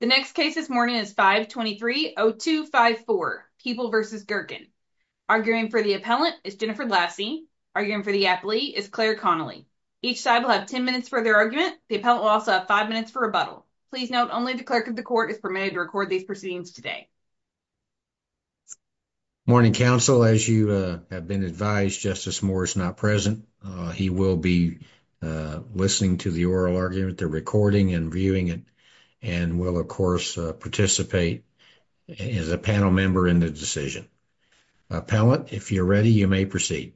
The next case this morning is 523-0254, People v. Gehrken. Arguing for the appellant is Jennifer Lassie. Arguing for the appellee is Claire Connolly. Each side will have 10 minutes for their argument. The appellant will also have 5 minutes for rebuttal. Please note, only the clerk of the court is permitted to record these proceedings today. Morning, counsel. As you have been advised, Justice Moore is not present. He will be listening to the oral argument. They're recording and viewing it and will, of course, participate as a panel member in the decision. Appellant, if you're ready, you may proceed.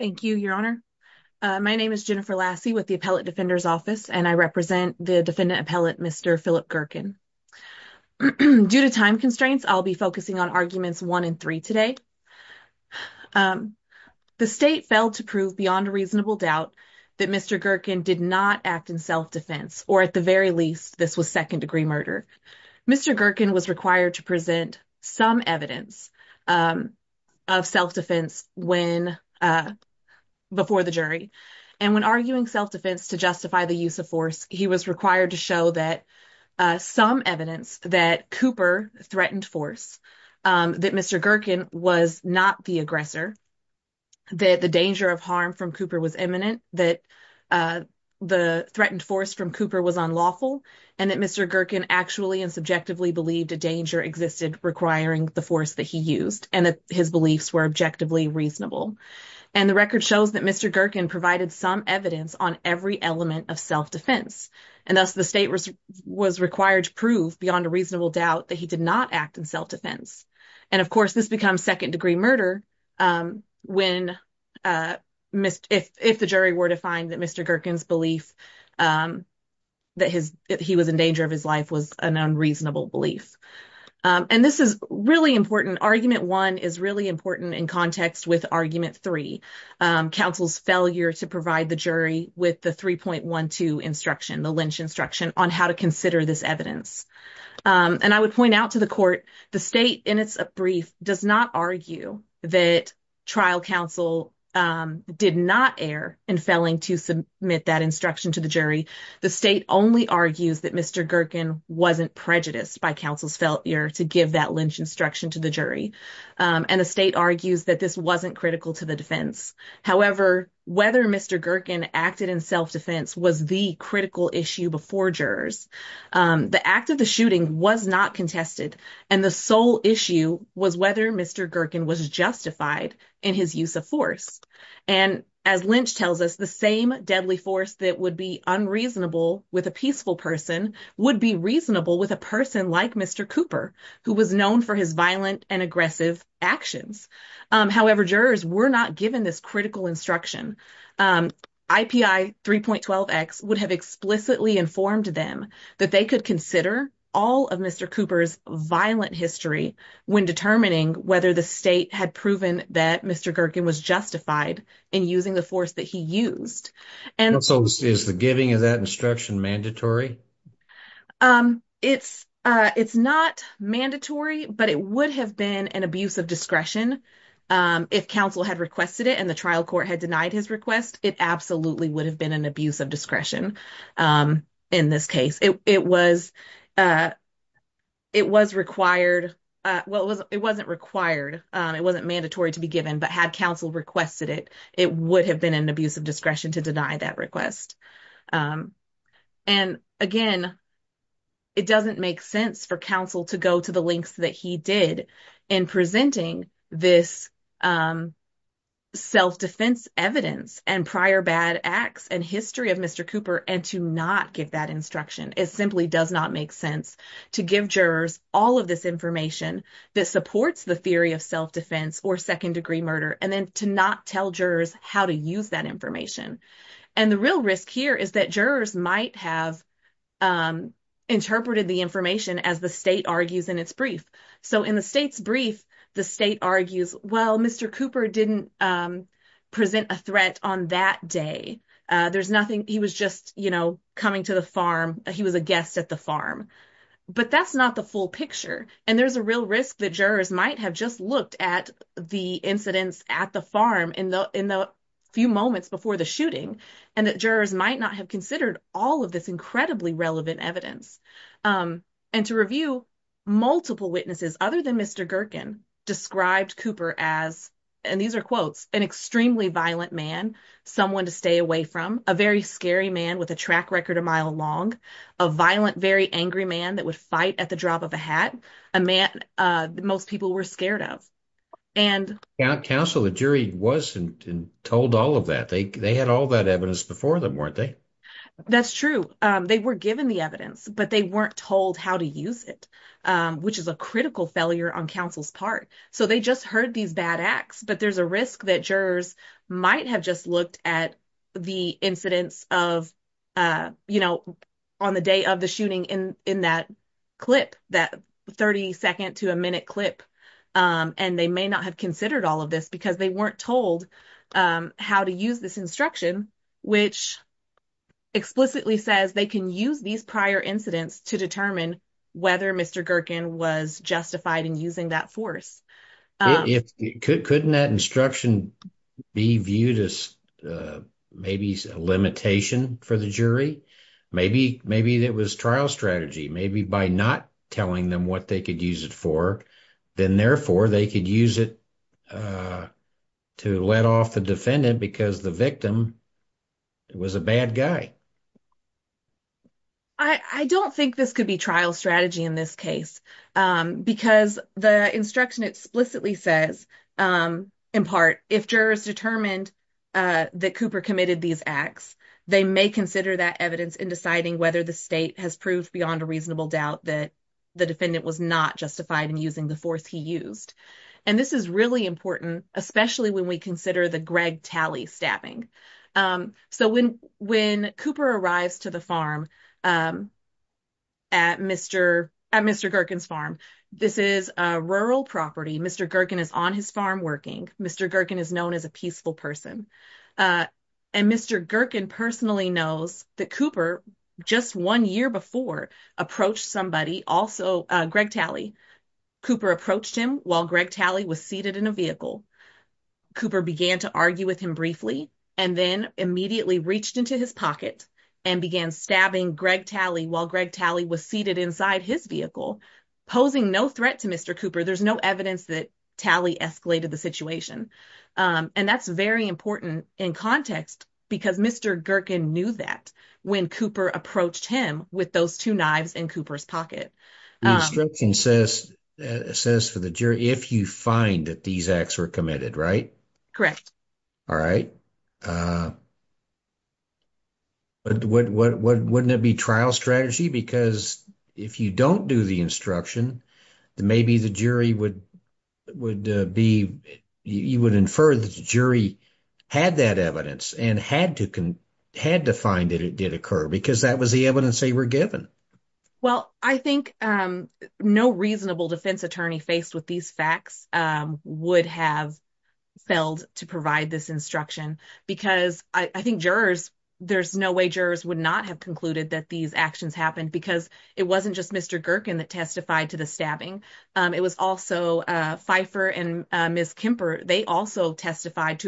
Thank you, Your Honor. My name is Jennifer Lassie with the Appellant Defender's Office and I represent the defendant appellant, Mr. Philip Gehrken. Due to time constraints, I'll be focusing on arguments 1 and 3 today. The state failed to prove beyond a reasonable doubt that Mr. Gehrken did not act in self-defense or, at the very least, this was second-degree murder. Mr. Gehrken was required to present some evidence of self-defense before the jury. And when arguing self-defense to justify the use of force, he was required to show some evidence that Cooper threatened force, that Mr. Gehrken was not the aggressor, that the danger of harm from Cooper was imminent, that the threatened force from Cooper was unlawful, and that Mr. Gehrken actually and subjectively believed a danger existed requiring the force that he used and that his beliefs were objectively reasonable. And the record shows that Mr. Gehrken provided some evidence on every element of self-defense and thus the state was required to prove beyond a reasonable doubt that he did not act in self-defense. And, of course, this becomes second-degree murder if the jury were to find that Mr. Gehrken's belief that he was in danger of his life was an unreasonable belief. And this is really important. Argument one is really important in context with argument three, counsel's failure to provide the jury with the 3.12 instruction, the Lynch instruction, on how to consider this evidence. And I would point out to the court, the state in its brief does not argue that trial counsel did not err in failing to submit that instruction to the jury. The state only argues that Mr. Gehrken wasn't prejudiced by counsel's failure to give that Lynch instruction to the jury. And the state argues that this wasn't critical to the defense. However, whether Mr. Gehrken acted in self-defense was the critical issue before jurors. The act of the shooting was not contested and the sole issue was whether Mr. Gehrken was justified in his use of force. And as Lynch tells us, the same deadly force that would be unreasonable with a peaceful person would be reasonable with a person like Mr. Cooper, who was known for his violent and aggressive actions. However, jurors were not given this critical instruction. IPI 3.12x would have explicitly informed them that they could consider all of Mr. Cooper's violent history when determining whether the state had proven that Mr. Gehrken was justified in using the force that he used. And so is the giving of that instruction mandatory? It's not mandatory, but it would have been an abuse of discretion if counsel had requested it and the trial court had denied his request. It absolutely would have been an abuse of discretion in this case. It was required. Well, it wasn't required. It wasn't mandatory to be given, but had counsel requested it, it would have been an abuse of discretion to deny that request. And again, it doesn't make sense for counsel to go to the lengths that he did in presenting this self-defense evidence and prior bad acts and history of Mr. Cooper and to not give that instruction. It simply does not make sense to give jurors all of this information that supports the theory of self-defense or second degree murder and then to not tell jurors how to use that information. And the real risk here is that jurors might have interpreted the information as the argues in its brief. So in the state's brief, the state argues, well, Mr. Cooper didn't present a threat on that day. There's nothing. He was just coming to the farm. He was a guest at the farm. But that's not the full picture. And there's a real risk that jurors might have just looked at the incidents at the farm in the few moments before the shooting and that jurors might not have considered all of this incredibly relevant evidence. And to review, multiple witnesses other than Mr. Gerken described Cooper as, and these are quotes, an extremely violent man, someone to stay away from, a very scary man with a track record a mile long, a violent, very angry man that would fight at the drop of a hat, a man most people were scared of. And counsel, the jury wasn't told all of that. They had all that evidence before them, weren't they? That's true. They were given the evidence, but they weren't told how to use it, which is a critical failure on counsel's part. So they just heard these bad acts, but there's a risk that jurors might have just looked at the incidents on the day of the shooting in that clip, that 30 second to a minute clip. And they may not have considered all of this because they weren't told how to use this instruction, which explicitly says they can use these prior incidents to determine whether Mr. Gerken was justified in using that force. Couldn't that instruction be viewed as maybe a limitation for the jury? Maybe it was trial strategy, maybe by not telling them what they could use it for, then therefore they could use it to let off the defendant because the victim was a bad guy. I don't think this could be trial strategy in this case because the instruction explicitly says, in part, if jurors determined that Cooper committed these acts, they may consider that evidence in deciding whether the state has proved beyond a reasonable doubt that the defendant was not justified in using the force he used. And this is really important, especially when we consider the Greg Talley stabbing. So when Cooper arrives to the farm at Mr. Gerken's farm, this is a rural property. Mr. Gerken is on his farm working. Mr. Gerken is known as a peaceful person. And Mr. Gerken personally knows that Cooper, just one year before, approached somebody, also Cooper approached him while Greg Talley was seated in a vehicle. Cooper began to argue with him briefly and then immediately reached into his pocket and began stabbing Greg Talley while Greg Talley was seated inside his vehicle, posing no threat to Mr. Cooper. There's no evidence that Talley escalated the situation. And that's very important in context because Mr. Gerken knew that when Cooper approached him with those two knives in Cooper's pocket. The instruction says for the jury, if you find that these acts were committed, right? Correct. All right. But wouldn't it be trial strategy? Because if you don't do the instruction, maybe the jury would be, you would infer that the jury had that evidence and had to find that it did occur because that was the evidence they were given. Well, I think no reasonable defense attorney faced with these facts would have failed to provide this instruction because I think jurors, there's no way jurors would not have concluded that these actions happened because it wasn't just Mr. Gerken that testified to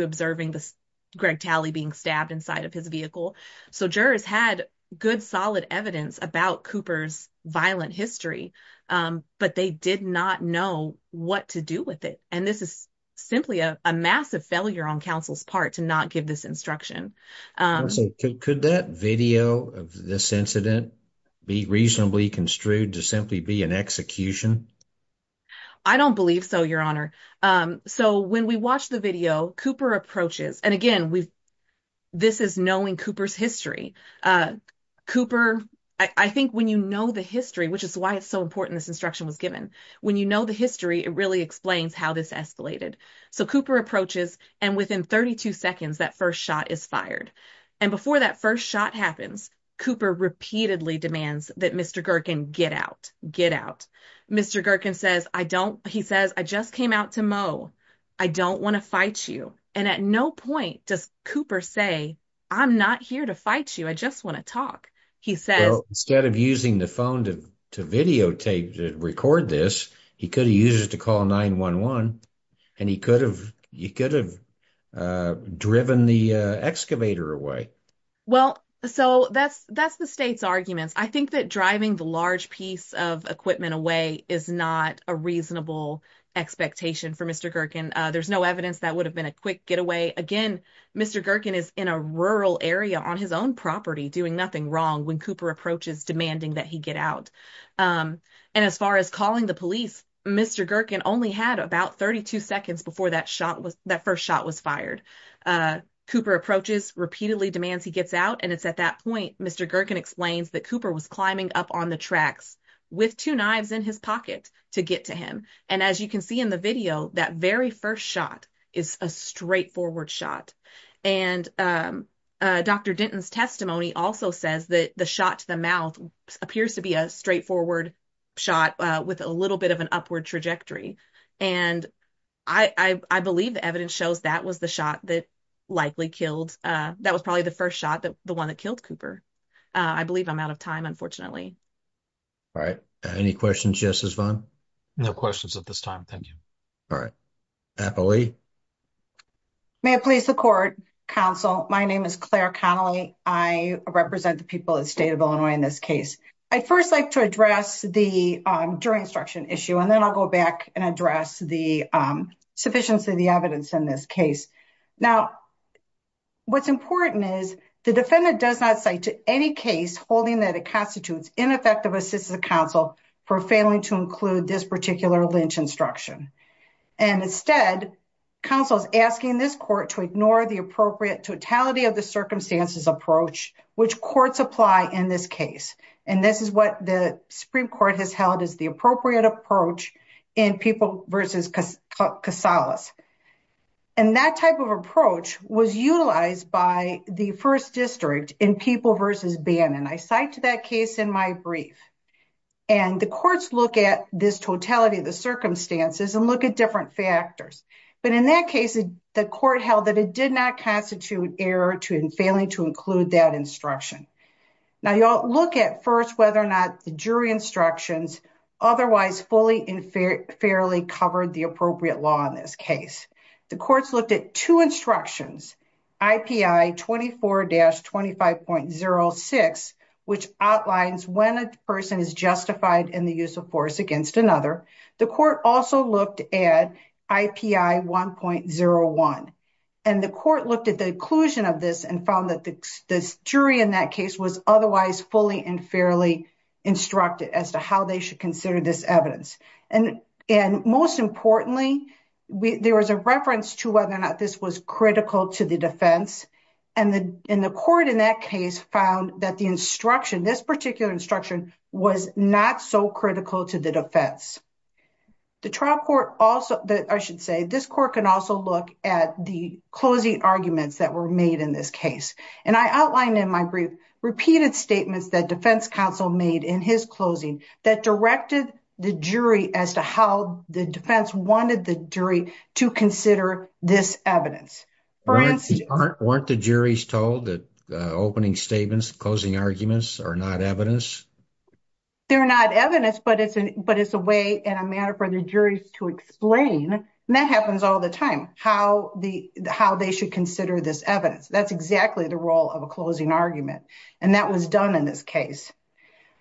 the Greg Talley being stabbed inside of his vehicle. So jurors had good solid evidence about Cooper's violent history, but they did not know what to do with it. And this is simply a massive failure on counsel's part to not give this instruction. Could that video of this incident be reasonably construed to simply be an execution? I don't believe so, your honor. So when we watched the Cooper approaches, and again, this is knowing Cooper's history. I think when you know the history, which is why it's so important this instruction was given, when you know the history, it really explains how this escalated. So Cooper approaches and within 32 seconds, that first shot is fired. And before that first shot happens, Cooper repeatedly demands that Mr. Gerken get out, get out. Mr. Gerken says, I don't, he says, I just came out to mow. I don't want to fight you. And at no point does Cooper say, I'm not here to fight you. I just want to talk. He says, instead of using the phone to videotape, to record this, he could have used to call 911 and he could have, he could have driven the excavator away. Well, so that's, that's the arguments. I think that driving the large piece of equipment away is not a reasonable expectation for Mr. Gerken. There's no evidence that would have been a quick getaway. Again, Mr. Gerken is in a rural area on his own property doing nothing wrong when Cooper approaches demanding that he get out. And as far as calling the police, Mr. Gerken only had about 32 seconds before that shot was, that first shot was fired. Cooper approaches repeatedly demands he gets out and it's at that point, Mr. Gerken explains that Cooper was climbing up on the tracks with two knives in his pocket to get to him. And as you can see in the video, that very first shot is a straightforward shot. And Dr. Denton's testimony also says that the shot to the mouth appears to be a straightforward shot with a little bit of an upward trajectory. And I believe the evidence shows that was the shot that likely killed, uh, that was probably the first shot that the one that killed Cooper. Uh, I believe I'm out of time, unfortunately. All right. Any questions, Justice Vaughn? No questions at this time. Thank you. All right. Apple Lee. May it please the court, counsel. My name is Claire Connelly. I represent the people of the state of Illinois in this case. I'd first like to address the, um, jury instruction issue, and then I'll go back and address the, um, sufficiency of the evidence in this case. Now, what's important is the defendant does not say to any case holding that it constitutes ineffective assistance to counsel for failing to include this particular lynch instruction. And instead, counsel is asking this court to ignore the appropriate totality of the circumstances approach, which courts apply in this case. And this is what the Supreme Court has held as the appropriate approach in people versus Casillas. And that type of approach was utilized by the first district in people versus Bannon. I cite to that case in my brief, and the courts look at this totality of the circumstances and look at different factors. But in that case, the court held that it did not constitute error to failing to include that instruction. Now, you'll look at first whether or not the jury instructions otherwise fully and fairly covered the appropriate law in this case. The courts looked at two instructions, IPI 24-25.06, which outlines when a person is justified in the use of force against another. The court also looked at IPI 1.01. And the court looked at the inclusion of this and found that this jury in that case was otherwise fully and fairly instructed as to how they should consider this evidence. And most importantly, there was a reference to whether or not this was critical to the defense. And the court in that case found that the instruction, this particular instruction, was not so critical to the defense. The trial court also, I should say, this court can also look at the closing arguments that were made in this case. And I outlined in my brief, repeated statements that defense counsel made in his closing that directed the jury as to how the defense wanted the jury to consider this evidence. For instance- Weren't the juries told that opening statements, closing arguments are not evidence? They're not evidence, but it's a way and a matter for the juries to explain. And that happens all the time, how they should consider this evidence. That's exactly the role of a closing argument. And that was done in this case.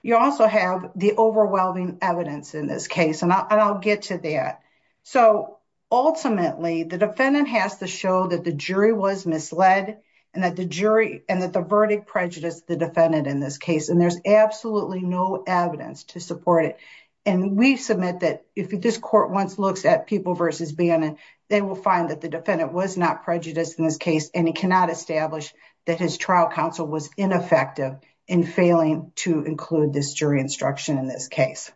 You also have the overwhelming evidence in this case, and I'll get to that. So ultimately, the defendant has to show that the jury was misled and that the verdict prejudiced the defendant in this case. And there's absolutely no evidence to support it. And we submit that if this court once looks at people versus Bannon, they will find that the defendant was not prejudiced in this case, and he cannot establish that his trial counsel was ineffective in failing to include this jury instruction in this case.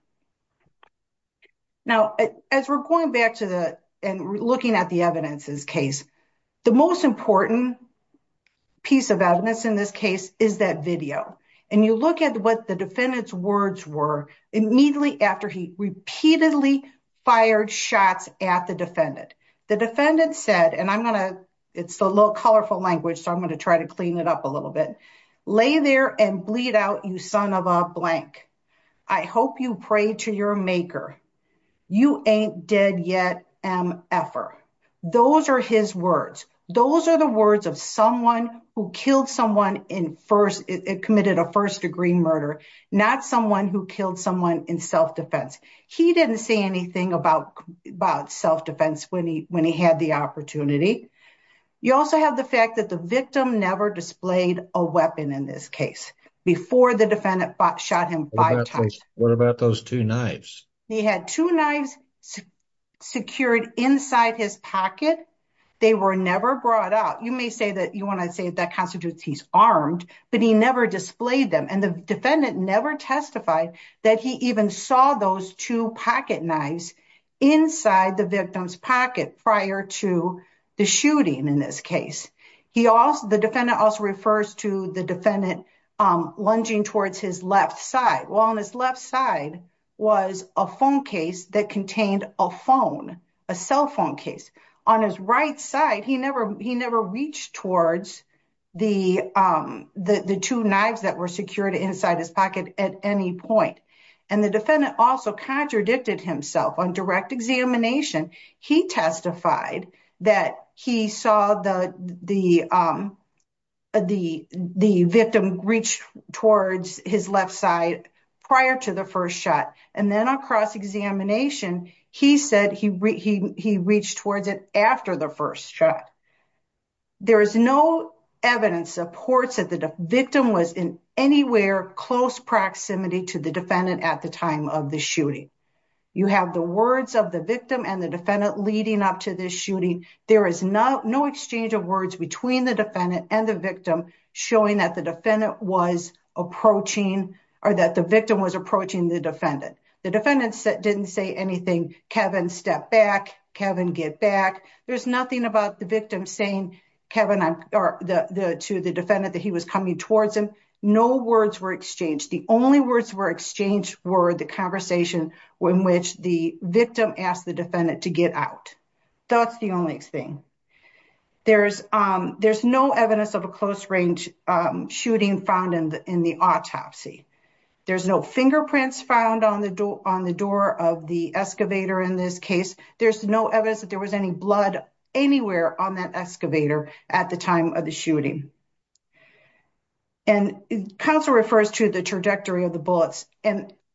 Now, as we're going back to the and looking at the evidence in this case, the most important piece of evidence in this case is that video. And you look at what the defendant's words were, immediately after he repeatedly fired shots at the defendant. The defendant said, and I'm going to, it's a little colorful language, so I'm going to try to clean it up a little bit. Lay there and bleed out, you son of a blank. I hope you pray to your maker. You ain't dead yet, M. Effer. Those are his words. Those are the words of someone who killed someone in first, committed a first degree murder, not someone who killed someone in self-defense. He didn't say anything about self-defense when he had the opportunity. You also have the fact that the victim never displayed a weapon in this case before the defendant shot him five times. What about those two knives? He had two knives secured inside his pocket. They were never brought out. You may say that you want to say that constitutes he's armed, but he never displayed them. And the defendant never testified that he even saw those two pocket knives inside the victim's pocket prior to the shooting in this case. The defendant also refers to the defendant lunging towards his left side. Well, on his left side was a phone case that contained a phone, a cell phone case. On his right side, he never reached towards the two knives that were secured inside his pocket at any point. And the defendant also contradicted himself on direct examination. He testified that he saw the victim reach towards his left side prior to the first shot. And then on cross-examination, he said he reached towards it after the first shot. There is no evidence that supports that the victim was in anywhere close proximity to the defendant at the time of the shooting. You have the words of the victim and the defendant leading up to this shooting. There is no exchange of words between the defendant and the victim showing that the victim was approaching the defendant. The defendant didn't say anything. Kevin, step back. Kevin, get back. There's nothing about the victim saying to the defendant that he was coming towards him. No words were exchanged. The only words were exchanged were the conversation in which the victim asked the defendant to get out. That's the only thing. There's no evidence of a close-range shooting found in the autopsy. There's no fingerprints found on the door of the excavator in this case. There's no evidence that there was any blood anywhere on that excavator at the time of the shooting. And counsel refers to the trajectory of the bullets.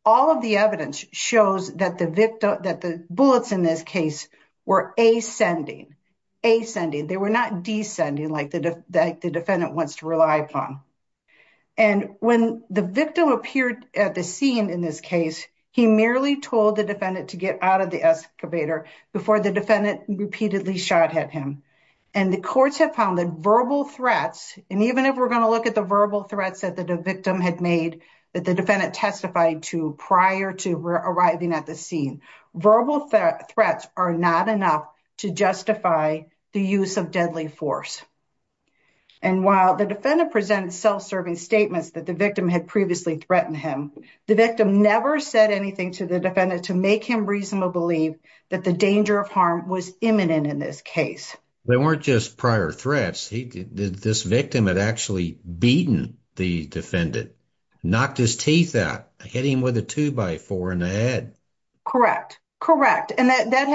All of the evidence shows that the bullets in this case were ascending. They were not descending like the defendant wants to rely upon. When the victim appeared at the scene in this case, he merely told the defendant to get out of the excavator before the defendant repeatedly shot at him. The courts have found that verbal threats, and even if we're going to testify to prior to arriving at the scene, verbal threats are not enough to justify the use of deadly force. And while the defendant presented self-serving statements that the victim had previously threatened him, the victim never said anything to the defendant to make him reasonably believe that the danger of harm was imminent in this case. They weren't just prior threats. This victim had actually beaten the defendant, knocked his teeth out, hit him with a two-by-four in the head. Correct. And that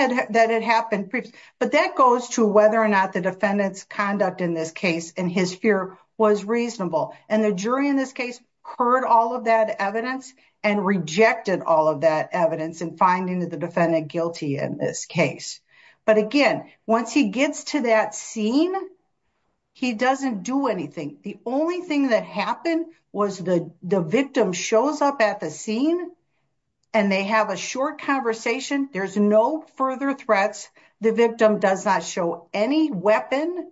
had happened previously. But that goes to whether or not the defendant's conduct in this case and his fear was reasonable. And the jury in this case heard all of that evidence and rejected all of that evidence in finding the defendant guilty in this case. But again, once he gets to that scene, he doesn't do anything. The only thing that happened was the victim shows up at the scene and they have a short conversation. There's no further threats. The victim does not show any weapon,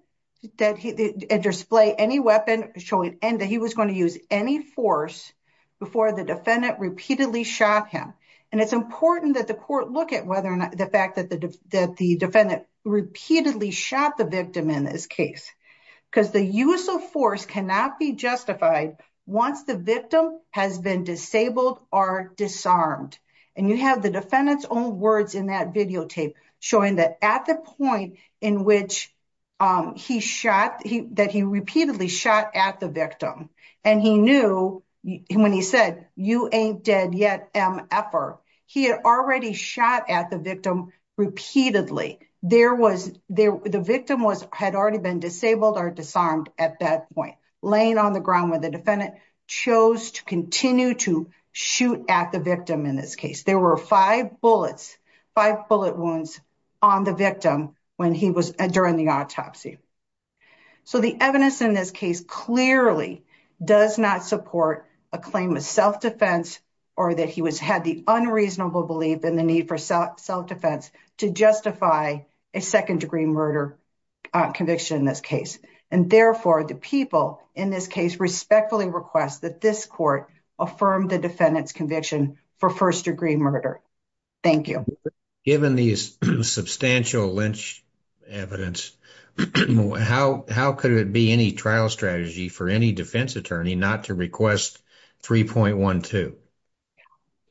display any weapon showing that he was going to use any force before the defendant repeatedly shot him. And it's important that the court look at whether or not the fact that the defendant repeatedly shot the victim in this case, because the use of force cannot be justified once the victim has been disabled or disarmed. And you have the defendant's own words in that videotape showing that at the point in which he shot, that he repeatedly shot at the victim. And he knew when he said, you ain't dead yet, effort. He had already shot at the victim repeatedly. The victim had already been disabled or disarmed at that point, laying on the ground where the defendant chose to continue to shoot at the victim in this case. There were five bullets, five bullet wounds on the victim when he was during the autopsy. So the evidence in this case clearly does not support a claim of self-defense or that he had the unreasonable belief in the need for self-defense to justify a second degree murder conviction in this case. And therefore the people in this case respectfully request that this court affirm the defendant's conviction for first degree murder. Thank you. Given these substantial lynch evidence, how could it be any trial strategy for any defense attorney not to request 3.12?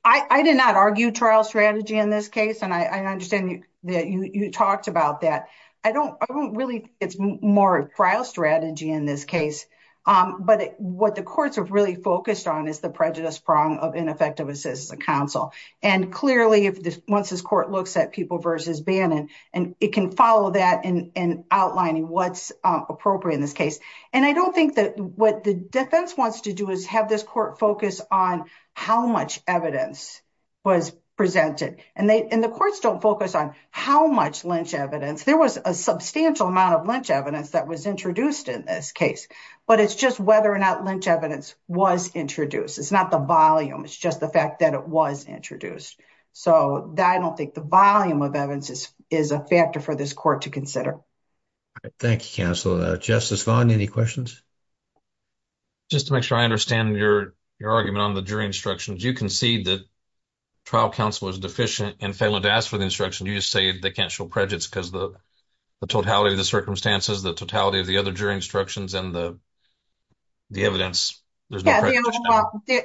I did not argue trial strategy in this case. And I understand that you talked about that. I don't really, it's more trial strategy in this case. But what the courts have really focused on is the prejudice prong of ineffective assistance of counsel. And clearly if once this court looks at people versus Bannon, and it can follow that in outlining what's appropriate in this case. And I don't think that what the defense wants to do is have this court focus on how much evidence was presented. And the courts don't focus on how much lynch evidence. There was a substantial amount of lynch evidence that was introduced in this case. But it's just whether or not lynch evidence was introduced. It's not the volume. It's just the fact that it was introduced. So I don't think the volume of evidence is a factor for this court to consider. Thank you, counsel. Justice Vaughn, any questions? Just to make sure I understand your argument on the jury instructions, you concede that trial counsel is deficient in failing to ask for the instruction. You just say they can't show prejudice because the totality of the circumstances, the totality of the other jury instructions and the evidence, there's no prejudice.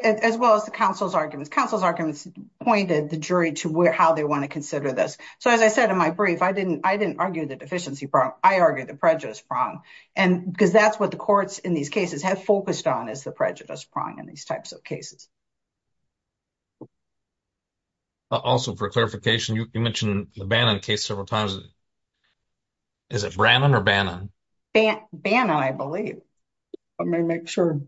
As well as the counsel's arguments. Counsel's arguments pointed the jury to how they want to consider this. So as I said in my brief, I didn't argue the deficiency prong. I argued the prejudice prong. Because that's what the courts in these cases have focused on is the prejudice prong in these types of cases. Also for clarification, you mentioned the Bannon case several times. Is it Brannon or Bannon? Bannon, I believe. Let me make sure.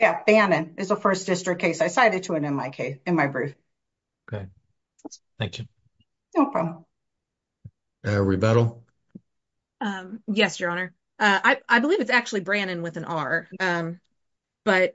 Yeah, Bannon is a first district case. I cited to it in my brief. Okay. Thank you. Rebeto? Yes, your honor. I believe it's actually Brannon with an R. But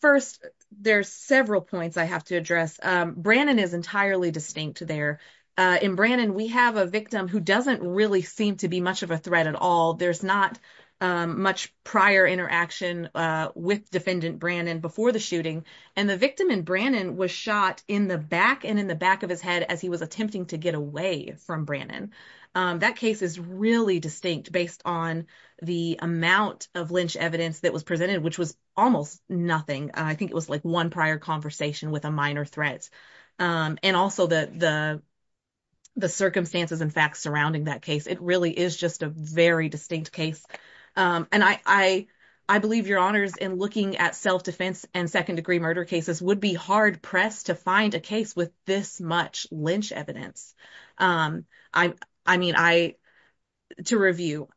first, there's several points I have to address. Brannon is entirely distinct there. In Brannon, we have a victim who doesn't really seem to be much of a threat at all. There's not much prior interaction with defendant Brannon before the shooting. And the victim in Brannon was shot in the back and in the back of his head as he was attempting to get away from Brannon. That case is really distinct based on the amount of Lynch evidence that was presented, which was almost nothing. I think it was like one prior conversation with a minor threat. And also the circumstances and facts surrounding that case. It really is just a very distinct case. And I believe your honors in looking at self-defense and second-degree murder cases would be hard pressed to find a case with this much Lynch evidence. I mean, to review,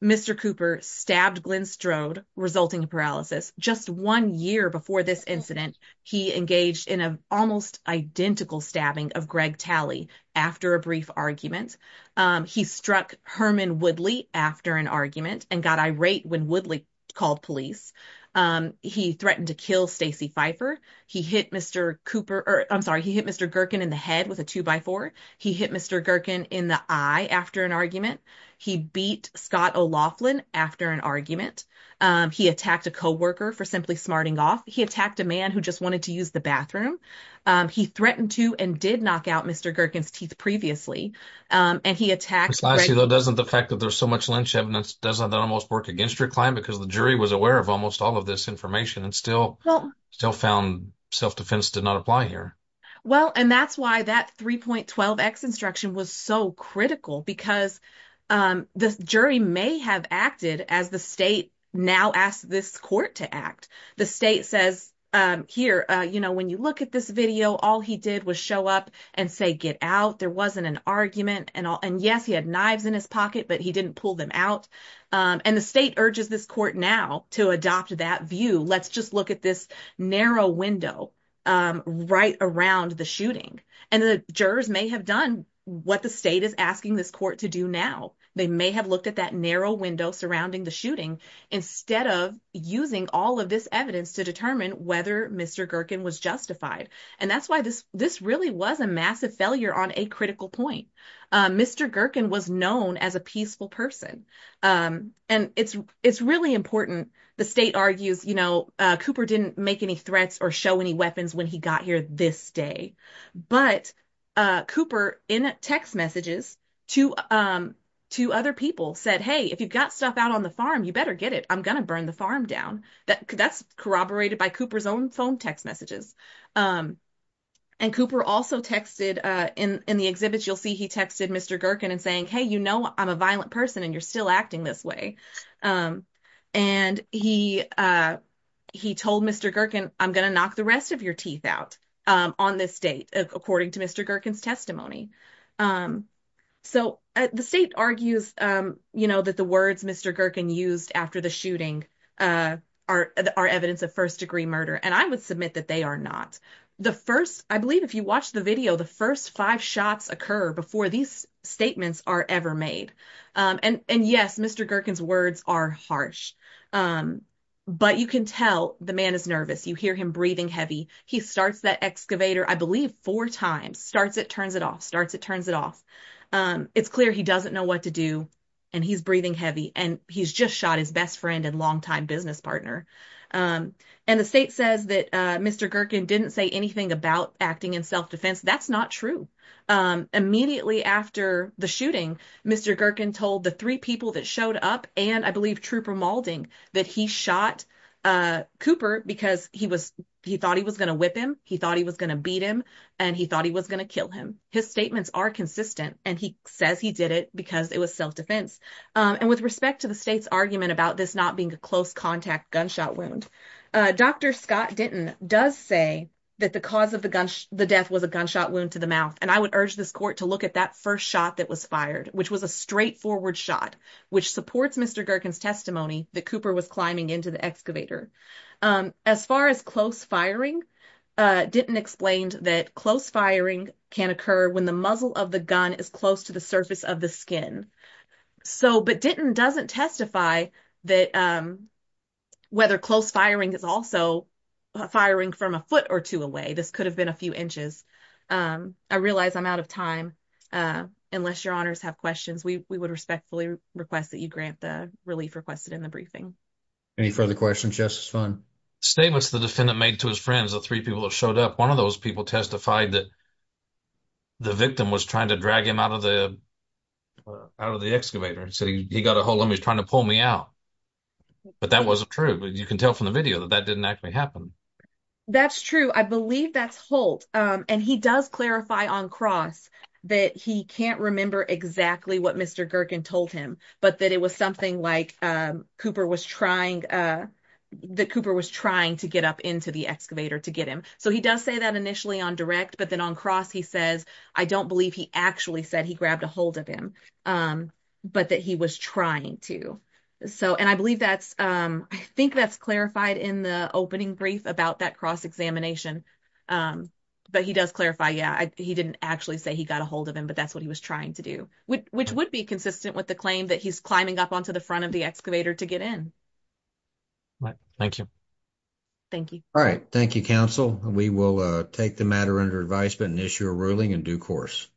Mr. Cooper stabbed Glenn Strode, resulting in paralysis. Just one year before this incident, he engaged in an almost identical stabbing of Greg Talley after a brief argument. He struck Herman Woodley after an argument and got irate when Woodley called police. He threatened to kill Stacey Pfeiffer. He hit Mr. Gerken in the head with a two-by-four. He hit Mr. Gerken in the eye after an argument. He beat Scott O'Loughlin after an argument. He attacked a co-worker for simply smarting off. He attacked a man who just stabbed Mr. Gerken's teeth previously. And he attacked Greg Talley. Precisely, though, doesn't the fact that there's so much Lynch evidence, doesn't that almost work against your client? Because the jury was aware of almost all of this information and still found self-defense did not apply here. Well, and that's why that 3.12x instruction was so critical, because the jury may have acted as the state now asked this court to act. The state says, here, you know, all he did was show up and say, get out. There wasn't an argument. And yes, he had knives in his pocket, but he didn't pull them out. And the state urges this court now to adopt that view. Let's just look at this narrow window right around the shooting. And the jurors may have done what the state is asking this court to do now. They may have looked at that narrow window surrounding the shooting instead of using all of this evidence to determine whether Mr. Gerken was justified. And that's why this really was a massive failure on a critical point. Mr. Gerken was known as a peaceful person. And it's really important. The state argues, you know, Cooper didn't make any threats or show any weapons when he got here this day. But Cooper, in text messages to other people, said, hey, if you've got stuff out on the farm, you better get it. I'm going to burn the farm down. That's corroborated by Cooper's own phone text messages. And Cooper also texted in the exhibits, you'll see he texted Mr. Gerken and saying, hey, you know, I'm a violent person and you're still acting this way. And he told Mr. Gerken, I'm going to knock the rest of your teeth out on this date, according to Mr. Gerken's testimony. So the state argues, you know, that the words Mr. Gerken used after the shooting are evidence of first degree murder. And I would submit that they are not. The first, I believe if you watch the video, the first five shots occur before these statements are ever made. And yes, Mr. Gerken's words are harsh. But you can tell the man is nervous. You hear him breathing heavy. He starts that excavator, I believe four times, starts it, turns it off, starts it, turns it off. It's clear he doesn't know what to do. And he's breathing hard. And the state says that Mr. Gerken didn't say anything about acting in self-defense. That's not true. Immediately after the shooting, Mr. Gerken told the three people that showed up, and I believe Trooper Moulding, that he shot Cooper because he thought he was going to whip him. He thought he was going to beat him. And he thought he was going to kill him. His statements are consistent. And he says he did it because it was self-defense. And with respect to the state's argument about this not being a close contact gunshot wound, Dr. Scott Denton does say that the cause of the death was a gunshot wound to the mouth. And I would urge this court to look at that first shot that was fired, which was a straightforward shot, which supports Mr. Gerken's testimony that Cooper was climbing into the excavator. As far as close firing, Denton explained that close firing can occur when the muzzle of the but Denton doesn't testify that whether close firing is also firing from a foot or two away. This could have been a few inches. I realize I'm out of time. Unless your honors have questions, we would respectfully request that you grant the relief requested in the briefing. Any further questions, Justice Funn? Statements the defendant made to his friends, the three people that showed up, one of those testified that the victim was trying to drag him out of the excavator. He said he got a hold on me. He was trying to pull me out. But that wasn't true. You can tell from the video that that didn't actually happen. That's true. I believe that's Holt. And he does clarify on cross that he can't remember exactly what Mr. Gerken told him, but that it was something like Cooper was trying that Cooper was trying to get up into the excavator to get him. So he does say that initially on direct, but then on cross, he says, I don't believe he actually said he grabbed a hold of him, but that he was trying to. So, and I believe that's, I think that's clarified in the opening brief about that cross examination. But he does clarify, yeah, he didn't actually say he got a hold of him, but that's what he was trying to do, which would be consistent with claim that he's climbing up onto the front of the excavator to get in. Right. Thank you. Thank you. All right. Thank you, Council. We will take the matter under advisement and issue a ruling in due course.